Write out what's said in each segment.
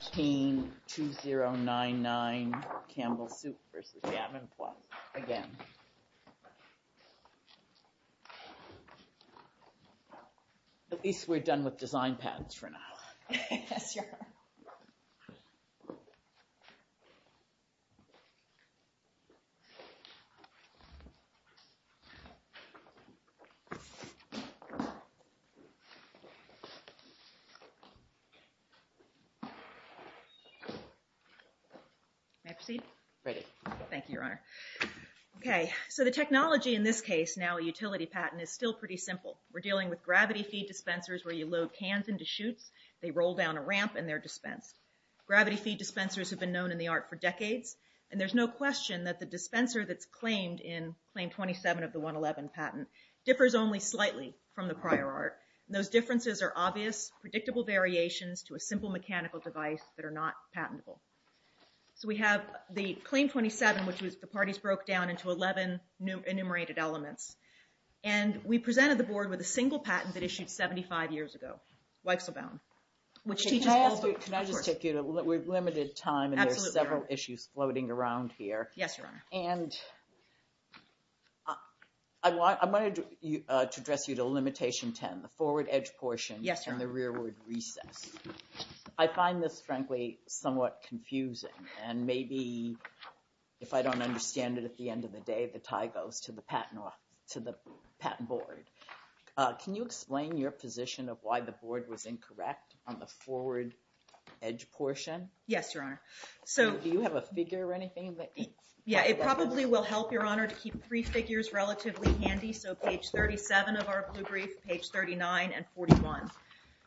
At least we're done with design patents for now. May I proceed? Ready. Thank you, Your Honor. Okay, so the technology in this case, now a utility patent, is still pretty simple. We're dealing with gravity feed dispensers where you load cans into chutes, they roll down a ramp, and they're dispensed. Gravity feed dispensers have been known in the art for decades, and there's no question that the dispenser that's claimed in Claim 27 of the 111 patent differs only slightly from the prior art. Those differences are obvious, predictable variations to a simple mechanical device that are not patentable. So we have the Claim 27, which the parties broke down into 11 enumerated elements, and we presented the board with a single patent that issued 75 years ago, Weisselbaum. Can I just take you to, we've limited time and there's several issues floating around here. Yes, Your Honor. And I wanted to address you to limitation 10, the forward edge portion and the rearward recess. I find this, frankly, somewhat confusing, and maybe if I don't understand it at the end of the day, the tie goes to the patent board. Can you explain your position of why the board was incorrect on the forward edge portion? Yes, Your Honor. Do you have a figure or anything? Yeah, it probably will help, Your Honor, to keep three figures relatively handy. So page 37 of our blue brief, page 39 and 41.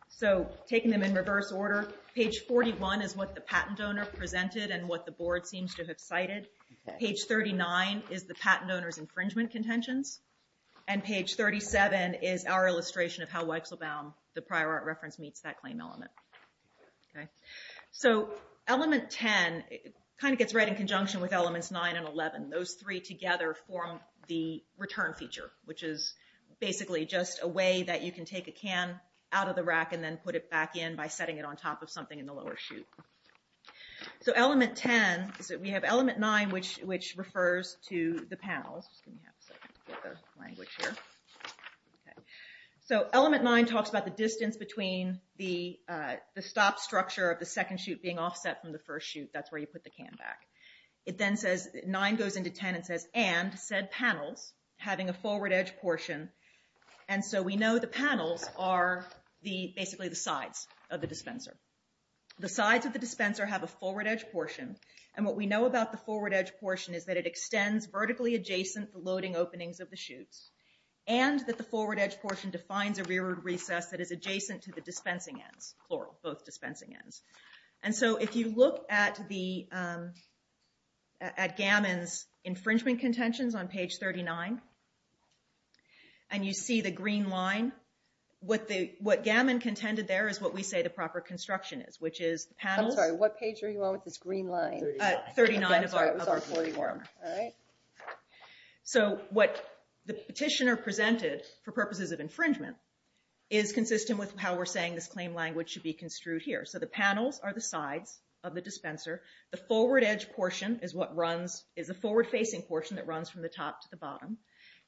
So taking them in reverse order, page 41 is what the patent owner presented and what the board seems to have cited. Page 39 is the patent owner's infringement contentions, and page 37 is our illustration of how Weisselbaum, the prior art reference, meets that claim element. So element 10 kind of gets right in conjunction with elements 9 and 11. Those three together form the return feature, which is basically just a way that you can take a can out of the rack and then put it back in by setting it on top of something in the lower chute. So element 10, we have element 9, which refers to the panels. Just give me a second to get the language here. So element 9 talks about the distance between the stop structure of the second chute being offset from the first chute. That's where you put the can back. It then says 9 goes into 10 and says, and said panels having a forward edge portion. And so we know the panels are basically the sides of the dispenser. The sides of the dispenser have a forward edge portion, and what we know about the forward edge portion is that it extends vertically adjacent the loading openings of the chutes, and that the forward edge portion defines a rearward recess that is adjacent to the dispensing ends, plural, both dispensing ends. And so if you look at Gammon's infringement contentions on page 39, and you see the green line, what Gammon contended there is what we say the proper construction is, which is panels. I'm sorry, what page are you on with this green line? 39 of our 41. So what the petitioner presented for purposes of infringement is consistent with how we're saying this claim language should be construed here. So the panels are the sides of the dispenser. The forward edge portion is a forward-facing portion that runs from the top to the bottom.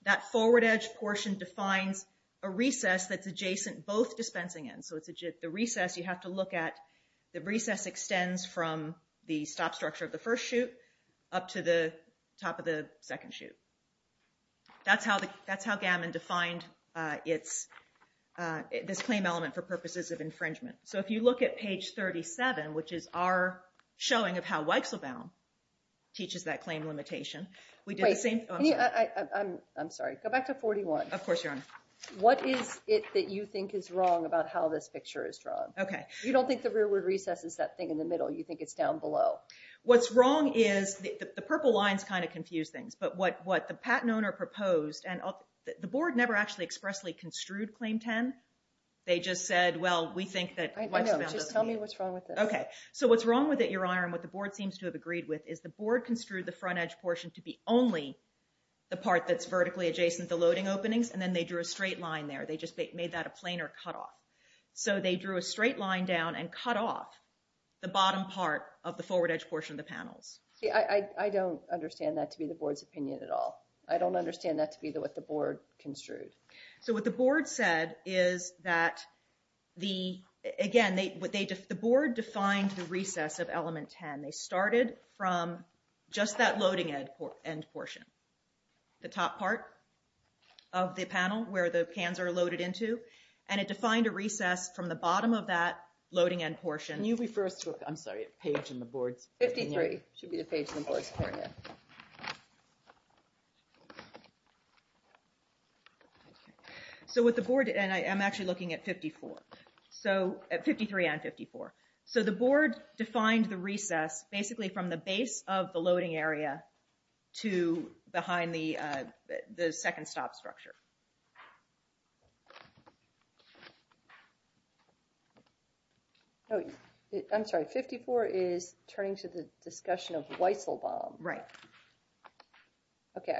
That forward edge portion defines a recess that's adjacent both dispensing ends. So the recess you have to look at, the recess extends from the stop structure of the first chute up to the top of the second chute. That's how Gammon defined this claim element for purposes of infringement. So if you look at page 37, which is our showing of how Wechselbaum teaches that claim limitation. Wait, I'm sorry, go back to 41. Of course, Your Honor. What is it that you think is wrong about how this picture is drawn? You don't think the rearward recess is that thing in the middle. You think it's down below. What's wrong is the purple lines kind of confuse things, but what the patent owner proposed, and the board never actually expressly construed Claim 10. They just said, well, we think that Wechselbaum doesn't need it. Just tell me what's wrong with this. So what's wrong with it, Your Honor, and what the board seems to have agreed with is the board construed the front edge portion to be only the part that's vertically adjacent to the loading openings, and then they drew a straight line there. They just made that a planar cutoff. So they drew a straight line down and cut off the bottom part of the forward edge portion of the panels. I don't understand that to be the board's opinion at all. I don't understand that to be what the board construed. So what the board said is that, again, the board defined the recess of element 10. They started from just that loading end portion, the top part of the panel where the cans are loaded into, and it defined a recess from the bottom of that loading end portion. Can you refer us to a page in the board's opinion? 53 should be the page in the board's opinion. So what the board did, and I'm actually looking at 54. So at 53 and 54. So the board defined the recess basically from the base of the loading area to behind the second stop structure. Oh, I'm sorry. 54 is turning to the discussion of Weisselbaum. Right. Okay.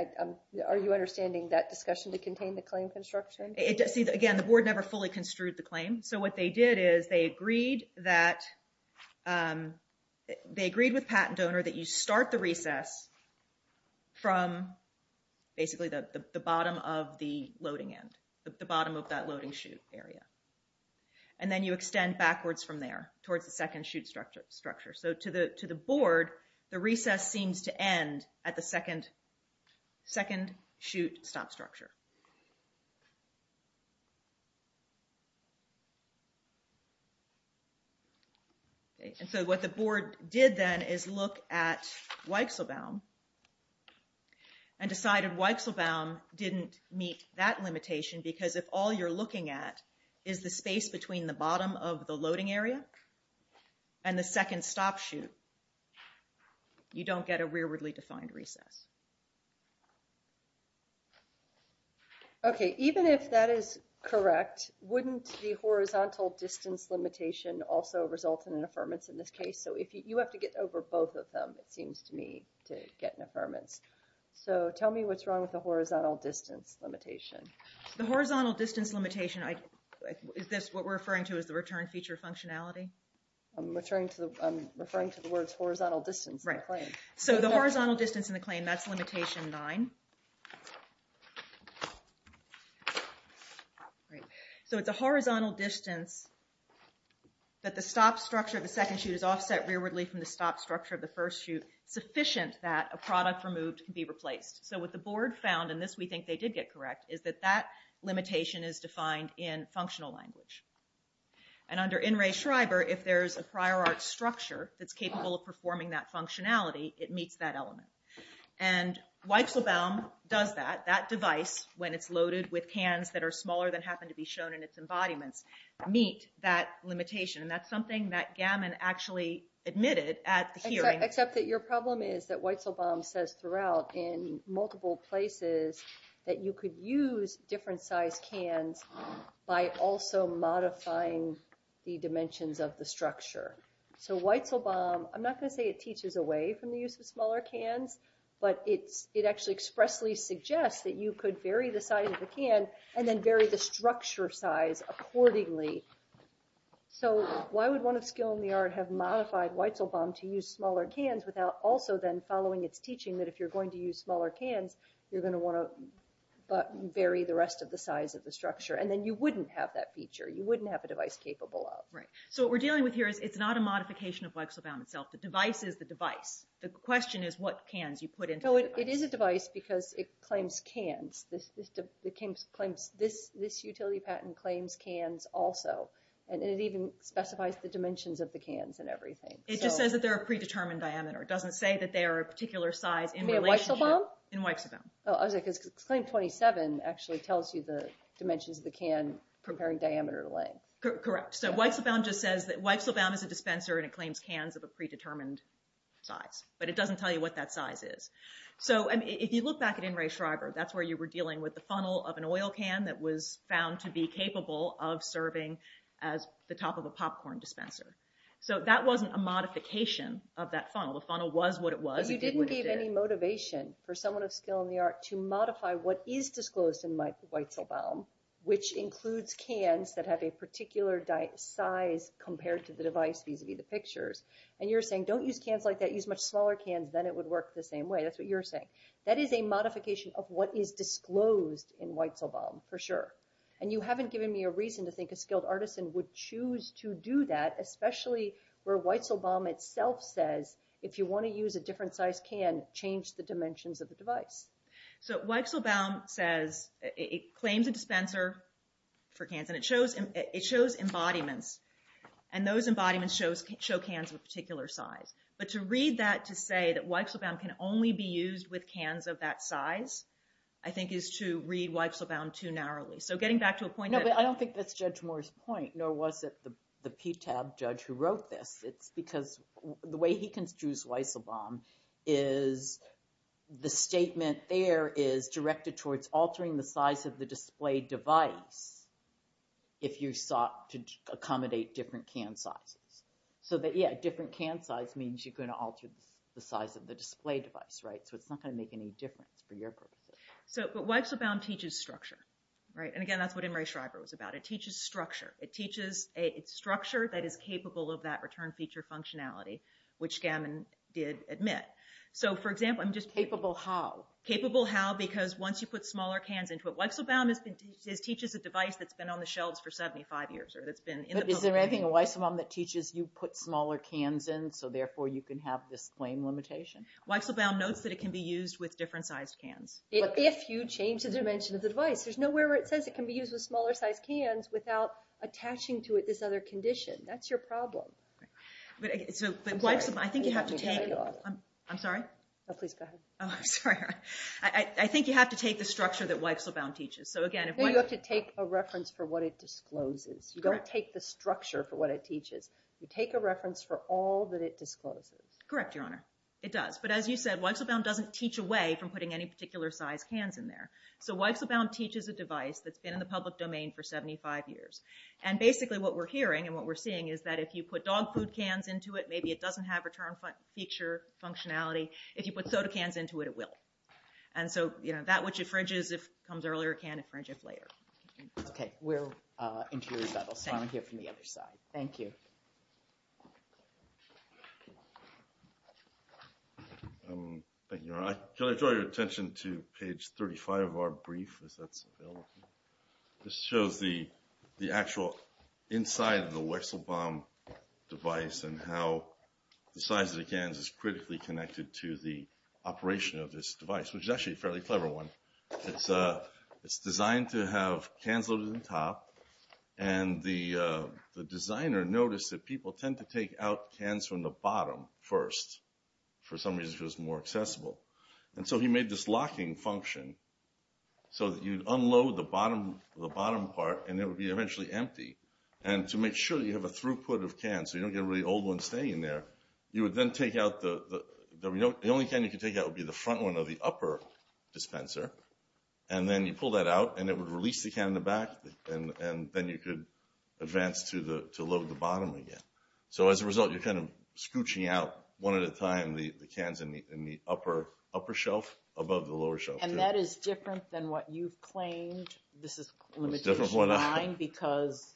Are you understanding that discussion to contain the claim construction? See, again, the board never fully construed the claim. So what they did is they agreed with Patent Donor that you start the recess from basically the bottom of the loading end, the bottom of that loading chute area, and then you extend backwards from there towards the second chute structure. So to the board, the recess seems to end at the second chute stop structure. Okay. And so what the board did then is look at Weisselbaum and decided Weisselbaum didn't meet that limitation because if all you're looking at is the space between the bottom of the loading area and the second stop chute, you don't get a rearwardly defined recess. Okay. Even if that is correct, wouldn't the horizontal distance limitation also result in an affirmance in this case? So you have to get over both of them, it seems to me, to get an affirmance. So tell me what's wrong with the horizontal distance limitation. The horizontal distance limitation, is this what we're referring to as the return feature functionality? I'm referring to the words horizontal distance in the claim. So the horizontal distance in the claim, that's limitation nine. So it's a horizontal distance that the stop structure of the second chute is offset rearwardly from the stop structure of the first chute, sufficient that a product removed can be replaced. So what the board found, and this we think they did get correct, is that that limitation is defined in functional language. And under In re Schreiber, if there's a prior art structure that's capable of performing that functionality, it meets that element. And Weizelbaum does that. That device, when it's loaded with cans that are smaller than happen to be shown in its embodiments, meet that limitation. And that's something that Gammon actually admitted at the hearing. Except that your problem is that Weizelbaum says throughout, in multiple places, that you could use different size cans by also modifying the dimensions of the structure. So Weizelbaum, I'm not going to say it teaches away from the use of smaller cans, but it actually expressly suggests that you could vary the size of the can and then vary the structure size accordingly. So why would one of skill in the art have modified Weizelbaum to use smaller cans without also then following its teaching that if you're going to use smaller cans, you're going to want to vary the rest of the size of the structure. And then you wouldn't have that feature. You wouldn't have a device capable of. So what we're dealing with here is it's not a modification of Weizelbaum itself. The device is the device. The question is what cans you put into the device. It is a device because it claims cans. This utility patent claims cans also. And it even specifies the dimensions of the cans and everything. It just says that they're a predetermined diameter. It doesn't say that they are a particular size in relationship. You mean Weizelbaum? In Weizelbaum. comparing diameter to length. Correct. So Weizelbaum just says that Weizelbaum is a dispenser and it claims cans of a predetermined size. But it doesn't tell you what that size is. So if you look back at In re Schreiber, that's where you were dealing with the funnel of an oil can that was found to be capable of serving as the top of a popcorn dispenser. So that wasn't a modification of that funnel. The funnel was what it was. You didn't give any motivation for someone of skill in the art to modify what is disclosed in Weizelbaum, which includes cans that have a particular size compared to the device vis-a-vis the pictures. And you're saying don't use cans like that. Use much smaller cans. Then it would work the same way. That's what you're saying. That is a modification of what is disclosed in Weizelbaum, for sure. And you haven't given me a reason to think a skilled artisan would choose to do that, especially where Weizelbaum itself says if you want to use a different size can, change the dimensions of the device. So Weizelbaum claims a dispenser for cans, and it shows embodiments, and those embodiments show cans of a particular size. But to read that to say that Weizelbaum can only be used with cans of that size, I think is to read Weizelbaum too narrowly. So getting back to a point that— No, but I don't think that's Judge Moore's point, nor was it the PTAB judge who wrote this. It's because the way he construes Weizelbaum is the statement there is directed towards altering the size of the display device if you sought to accommodate different can sizes. So that, yeah, different can size means you're going to alter the size of the display device, right? So it's not going to make any difference for your purposes. But Weizelbaum teaches structure, right? And again, that's what Emory-Schreiber was about. It teaches structure. It's structure that is capable of that return feature functionality, which Gammon did admit. So, for example, I'm just— Capable how? Capable how because once you put smaller cans into it, Weizelbaum teaches a device that's been on the shelves for 75 years or that's been in the public— But is there anything in Weizelbaum that teaches you put smaller cans in so therefore you can have this claim limitation? Weizelbaum notes that it can be used with different sized cans. If you change the dimension of the device. There's nowhere where it says it can be used with smaller size cans without attaching to it this other condition. That's your problem. But Weizelbaum, I think you have to take— I'm sorry? No, please go ahead. Oh, I'm sorry. I think you have to take the structure that Weizelbaum teaches. So, again, if one— No, you have to take a reference for what it discloses. Correct. You don't take the structure for what it teaches. You take a reference for all that it discloses. Correct, Your Honor. It does. But as you said, Weizelbaum doesn't teach away from putting any particular size cans in there. So Weizelbaum teaches a device that's been in the public domain for 75 years. And basically what we're hearing and what we're seeing is that if you put dog food cans into it, maybe it doesn't have return feature functionality. If you put soda cans into it, it will. And so that which infringes if it comes earlier can infringe if later. Okay. We're into your rebuttal. I'll hear from the other side. Thank you. Thank you, Your Honor. Can I draw your attention to page 35 of our brief as that's available? This shows the actual inside of the Weizelbaum device and how the size of the cans is critically connected to the operation of this device, which is actually a fairly clever one. It's designed to have cans loaded on top. And the designer noticed that people tend to take out cans from the bottom first for some reason if it was more accessible. And so he made this locking function so that you'd unload the bottom part and it would be eventually empty. And to make sure that you have a throughput of cans so you don't get a really old one staying in there, you would then take out the only can you could take out would be the front one of the upper dispenser. And then you pull that out, and it would release the can in the back, and then you could advance to load the bottom again. So as a result, you're kind of scooching out one at a time the cans in the upper shelf above the lower shelf. And that is different than what you've claimed. This is a limitation of mine because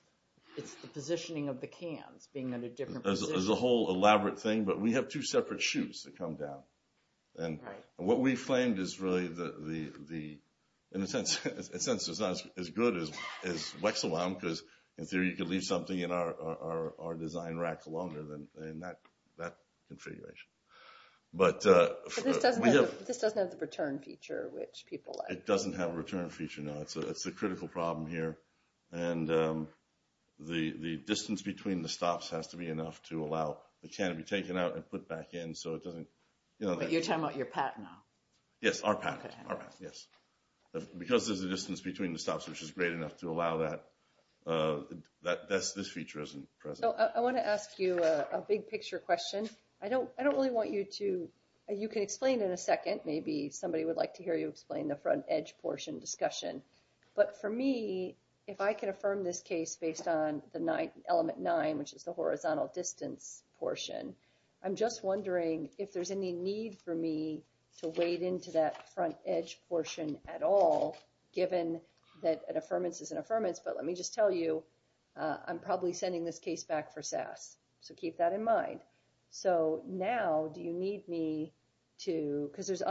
it's the positioning of the cans being at a different position. There's a whole elaborate thing, but we have two separate chutes that come down. And what we've claimed is really, in a sense, it's not as good as Weizelbaum because, in theory, you could leave something in our design rack longer than that configuration. But we have... But this doesn't have the return feature, which people like. It doesn't have a return feature, no. It's a critical problem here. And the distance between the stops has to be enough to allow the can to be taken out and put back in so it doesn't... But you're talking about your patent now. Yes, our patent, our patent, yes. Because there's a distance between the stops, which is great enough to allow that. This feature isn't present. I want to ask you a big-picture question. I don't really want you to... You can explain in a second. Maybe somebody would like to hear you explain the front edge portion discussion. But for me, if I can affirm this case based on Element 9, which is the horizontal distance portion, I'm just wondering if there's any need for me to wade into that front edge portion at all given that an affirmance is an affirmance. But let me just tell you, I'm probably sending this case back for SAS. So keep that in mind. So now do you need me to... Because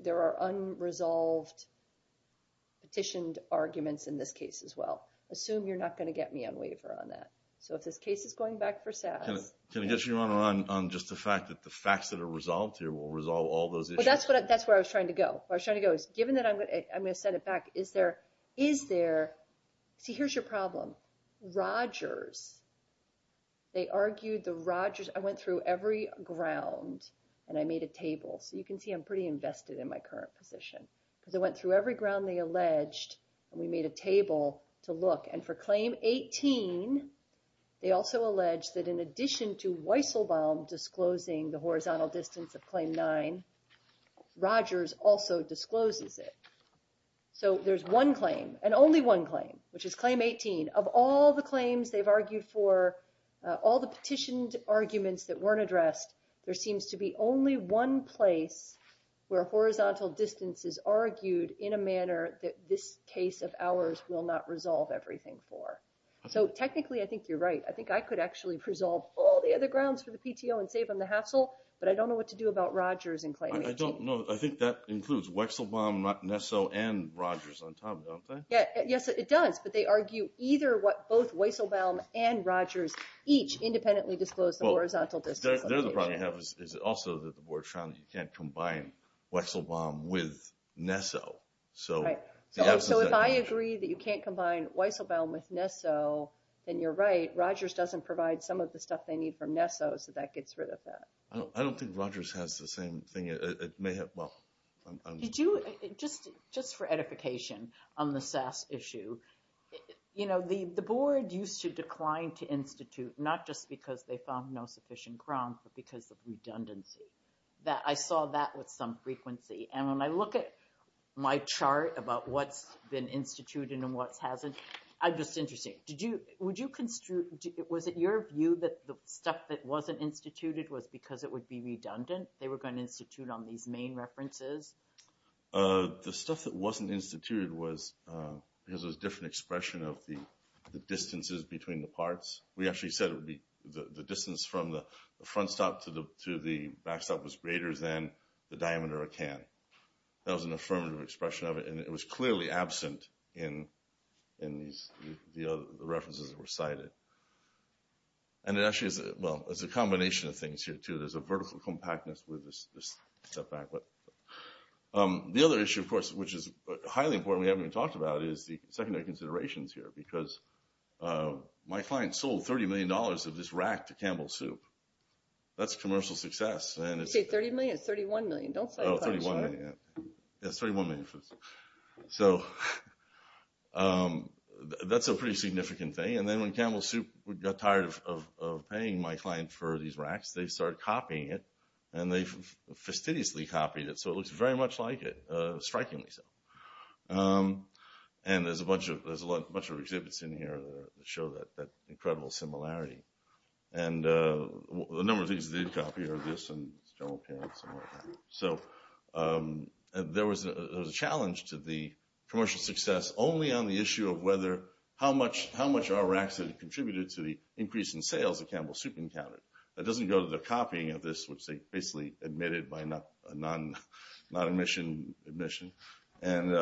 there are unresolved petitioned arguments in this case as well. Assume you're not going to get me on waiver on that. So if this case is going back for SAS... Can I get you on just the fact that the facts that are resolved here will resolve all those issues? Well, that's where I was trying to go. Where I was trying to go is given that I'm going to send it back, is there... See, here's your problem. Rogers, they argued the Rogers... I went through every ground, and I made a table. So you can see I'm pretty invested in my current position. Because I went through every ground they alleged, and we made a table to look. And for Claim 18, they also alleged that in addition to Weisselbaum disclosing the horizontal distance of Claim 9, Rogers also discloses it. So there's one claim, and only one claim, which is Claim 18. Of all the claims they've argued for, all the petitioned arguments that weren't addressed, there seems to be only one place where horizontal distance is argued in a manner that this case of ours will not resolve everything for. So technically, I think you're right. I think I could actually resolve all the other grounds for the PTO and save from the hassle, but I don't know what to do about Rogers and Claim 18. I don't know. I think that includes Weisselbaum, Nesso, and Rogers on top, don't they? Yes, it does. But they argue either what both Weisselbaum and Rogers each independently disclosed the horizontal distance. Their problem is also that the board found that you can't combine Weisselbaum with Nesso. So if I agree that you can't combine Weisselbaum with Nesso, then you're right. Rogers doesn't provide some of the stuff they need from Nesso, so that gets rid of that. I don't think Rogers has the same thing. Just for edification on the SAS issue, the board used to decline to institute not just because they found no sufficient grounds, but because of redundancy. I saw that with some frequency. And when I look at my chart about what's been instituted and what hasn't, I'm just interested. Was it your view that the stuff that wasn't instituted was because it would be redundant? They were going to institute on these main references? The stuff that wasn't instituted was because it was a different expression of the distances between the parts. We actually said it would be the distance from the front stop to the back stop was greater than the diameter of a can. That was an affirmative expression of it. And it was clearly absent in the references that were cited. And it actually is a combination of things here, too. There's a vertical compactness with this setback. The other issue, of course, which is highly important we haven't even talked about is the secondary considerations here. Because my client sold $30 million of this rack to Campbell Soup. That's commercial success. You say $30 million? It's $31 million. It's $31 million. So that's a pretty significant thing. And then when Campbell Soup got tired of paying my client for these racks, they started copying it. And they fastidiously copied it. So it looks very much like it, strikingly so. And there's a bunch of exhibits in here that show that incredible similarity. And a number of things they did copy are this and the general appearance. So there was a challenge to the commercial success only on the issue of how much our racks had contributed to the increase in sales that Campbell Soup encountered. That doesn't go to the copying of this, which they basically admitted by a non-admission admission. They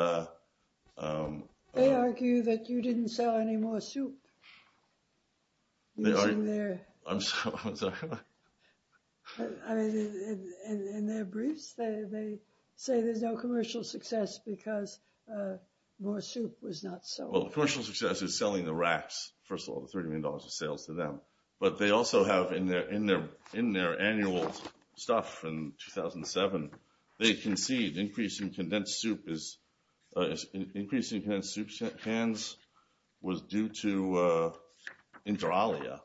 argue that you didn't sell any more soup. I'm sorry. In their briefs, they say there's no commercial success because more soup was not sold. Well, commercial success is selling the racks, first of all, the $30 million of sales to them. But they also have in their annual stuff from 2007, they concede increasing condensed soup cans was due to inter alia,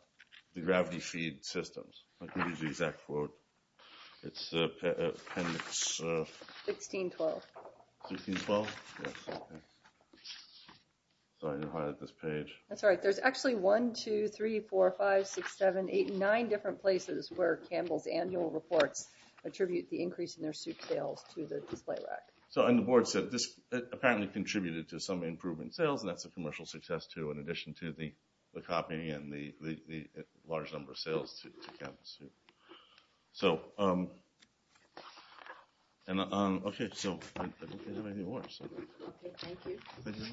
the gravity feed systems. What is the exact quote? It's appendix… 1612. 1612? Yes, okay. Sorry to highlight this page. That's all right. There's actually 1, 2, 3, 4, 5, 6, 7, 8, 9 different places where Campbell's annual reports attribute the increase in their soup sales to the display rack. So, and the board said this apparently contributed to some improvement in sales and that's a commercial success too in addition to the copy and the large number of sales to Campbell's soup. So, okay. So, I don't have any more. Okay, thank you. Thank you.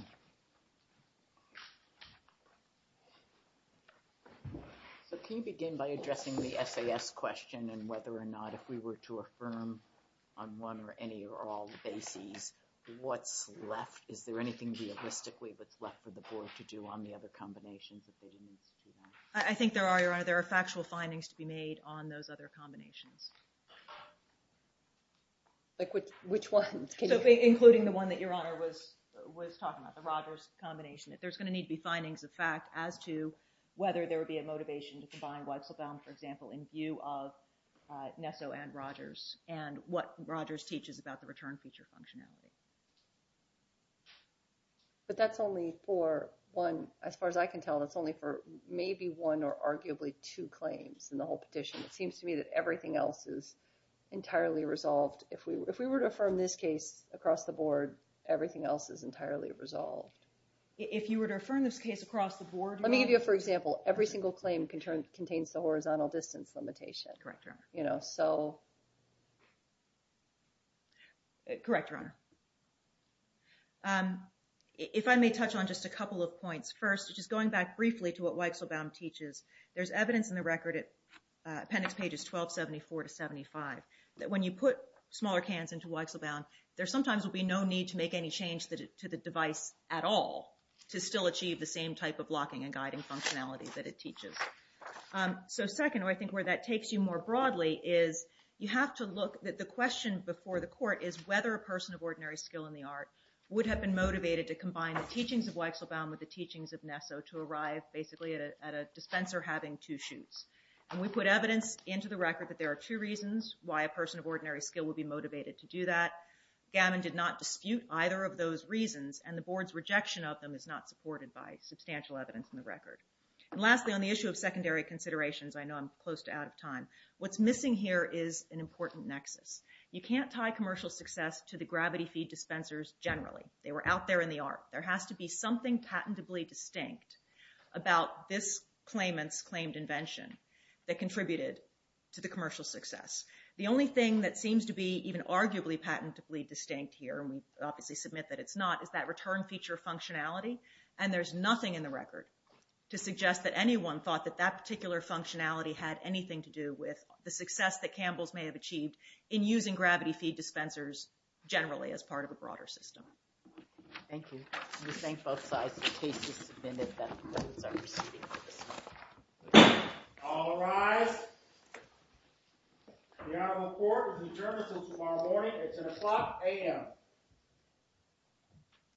So, can you begin by addressing the SAS question and whether or not if we were to affirm on one or any or all bases, what's left, is there anything realistically that's left for the board to do on the other combinations if they didn't institute that? I think there are, Your Honor. There are factual findings to be made on those other combinations. Like which ones? Including the one that Your Honor was talking about, the Rogers combination. There's going to need to be findings of fact as to whether there would be a motivation to combine Weitzelbaum, for example, in view of Nesso and Rogers and what Rogers teaches about the return feature functionality. But that's only for one. As far as I can tell, that's only for maybe one or arguably two claims in the whole petition. It seems to me that everything else is entirely resolved. If we were to affirm this case across the board, everything else is entirely resolved. If you were to affirm this case across the board, Your Honor? Let me give you a for example. Every single claim contains the horizontal distance limitation. Correct, Your Honor. If I may touch on just a couple of points. First, just going back briefly to what Weitzelbaum teaches, there's evidence in the record, appendix pages 1274 to 75, that when you put smaller cans into Weitzelbaum, there sometimes will be no need to make any change to the device at all to still achieve the same type of locking and guiding functionality that it teaches. Second, I think where that takes you more broadly, is you have to look at the question before the court is whether a person of ordinary skill in the art would have been motivated to combine the teachings of Weitzelbaum with the teachings of Nesso to arrive basically at a dispenser having two shoots. And we put evidence into the record that there are two reasons why a person of ordinary skill would be motivated to do that. Gavin did not dispute either of those reasons, and the board's rejection of them is not supported by substantial evidence in the record. And lastly, on the issue of secondary considerations, I know I'm close to out of time. What's missing here is an important nexus. You can't tie commercial success to the gravity feed dispensers generally. They were out there in the art. There has to be something patentably distinct about this claimant's claimed invention that contributed to the commercial success. The only thing that seems to be even arguably patentably distinct here, and we obviously submit that it's not, is that return feature functionality, and there's nothing in the record to suggest that anyone thought that that particular functionality had anything to do with the success that Campbell's may have achieved in using gravity feed dispensers generally as part of a broader system. Thank you. I'm just saying both sides of the case have submitted that those are received. All rise. The Honorable Court is adjourned until tomorrow morning at 10 o'clock a.m.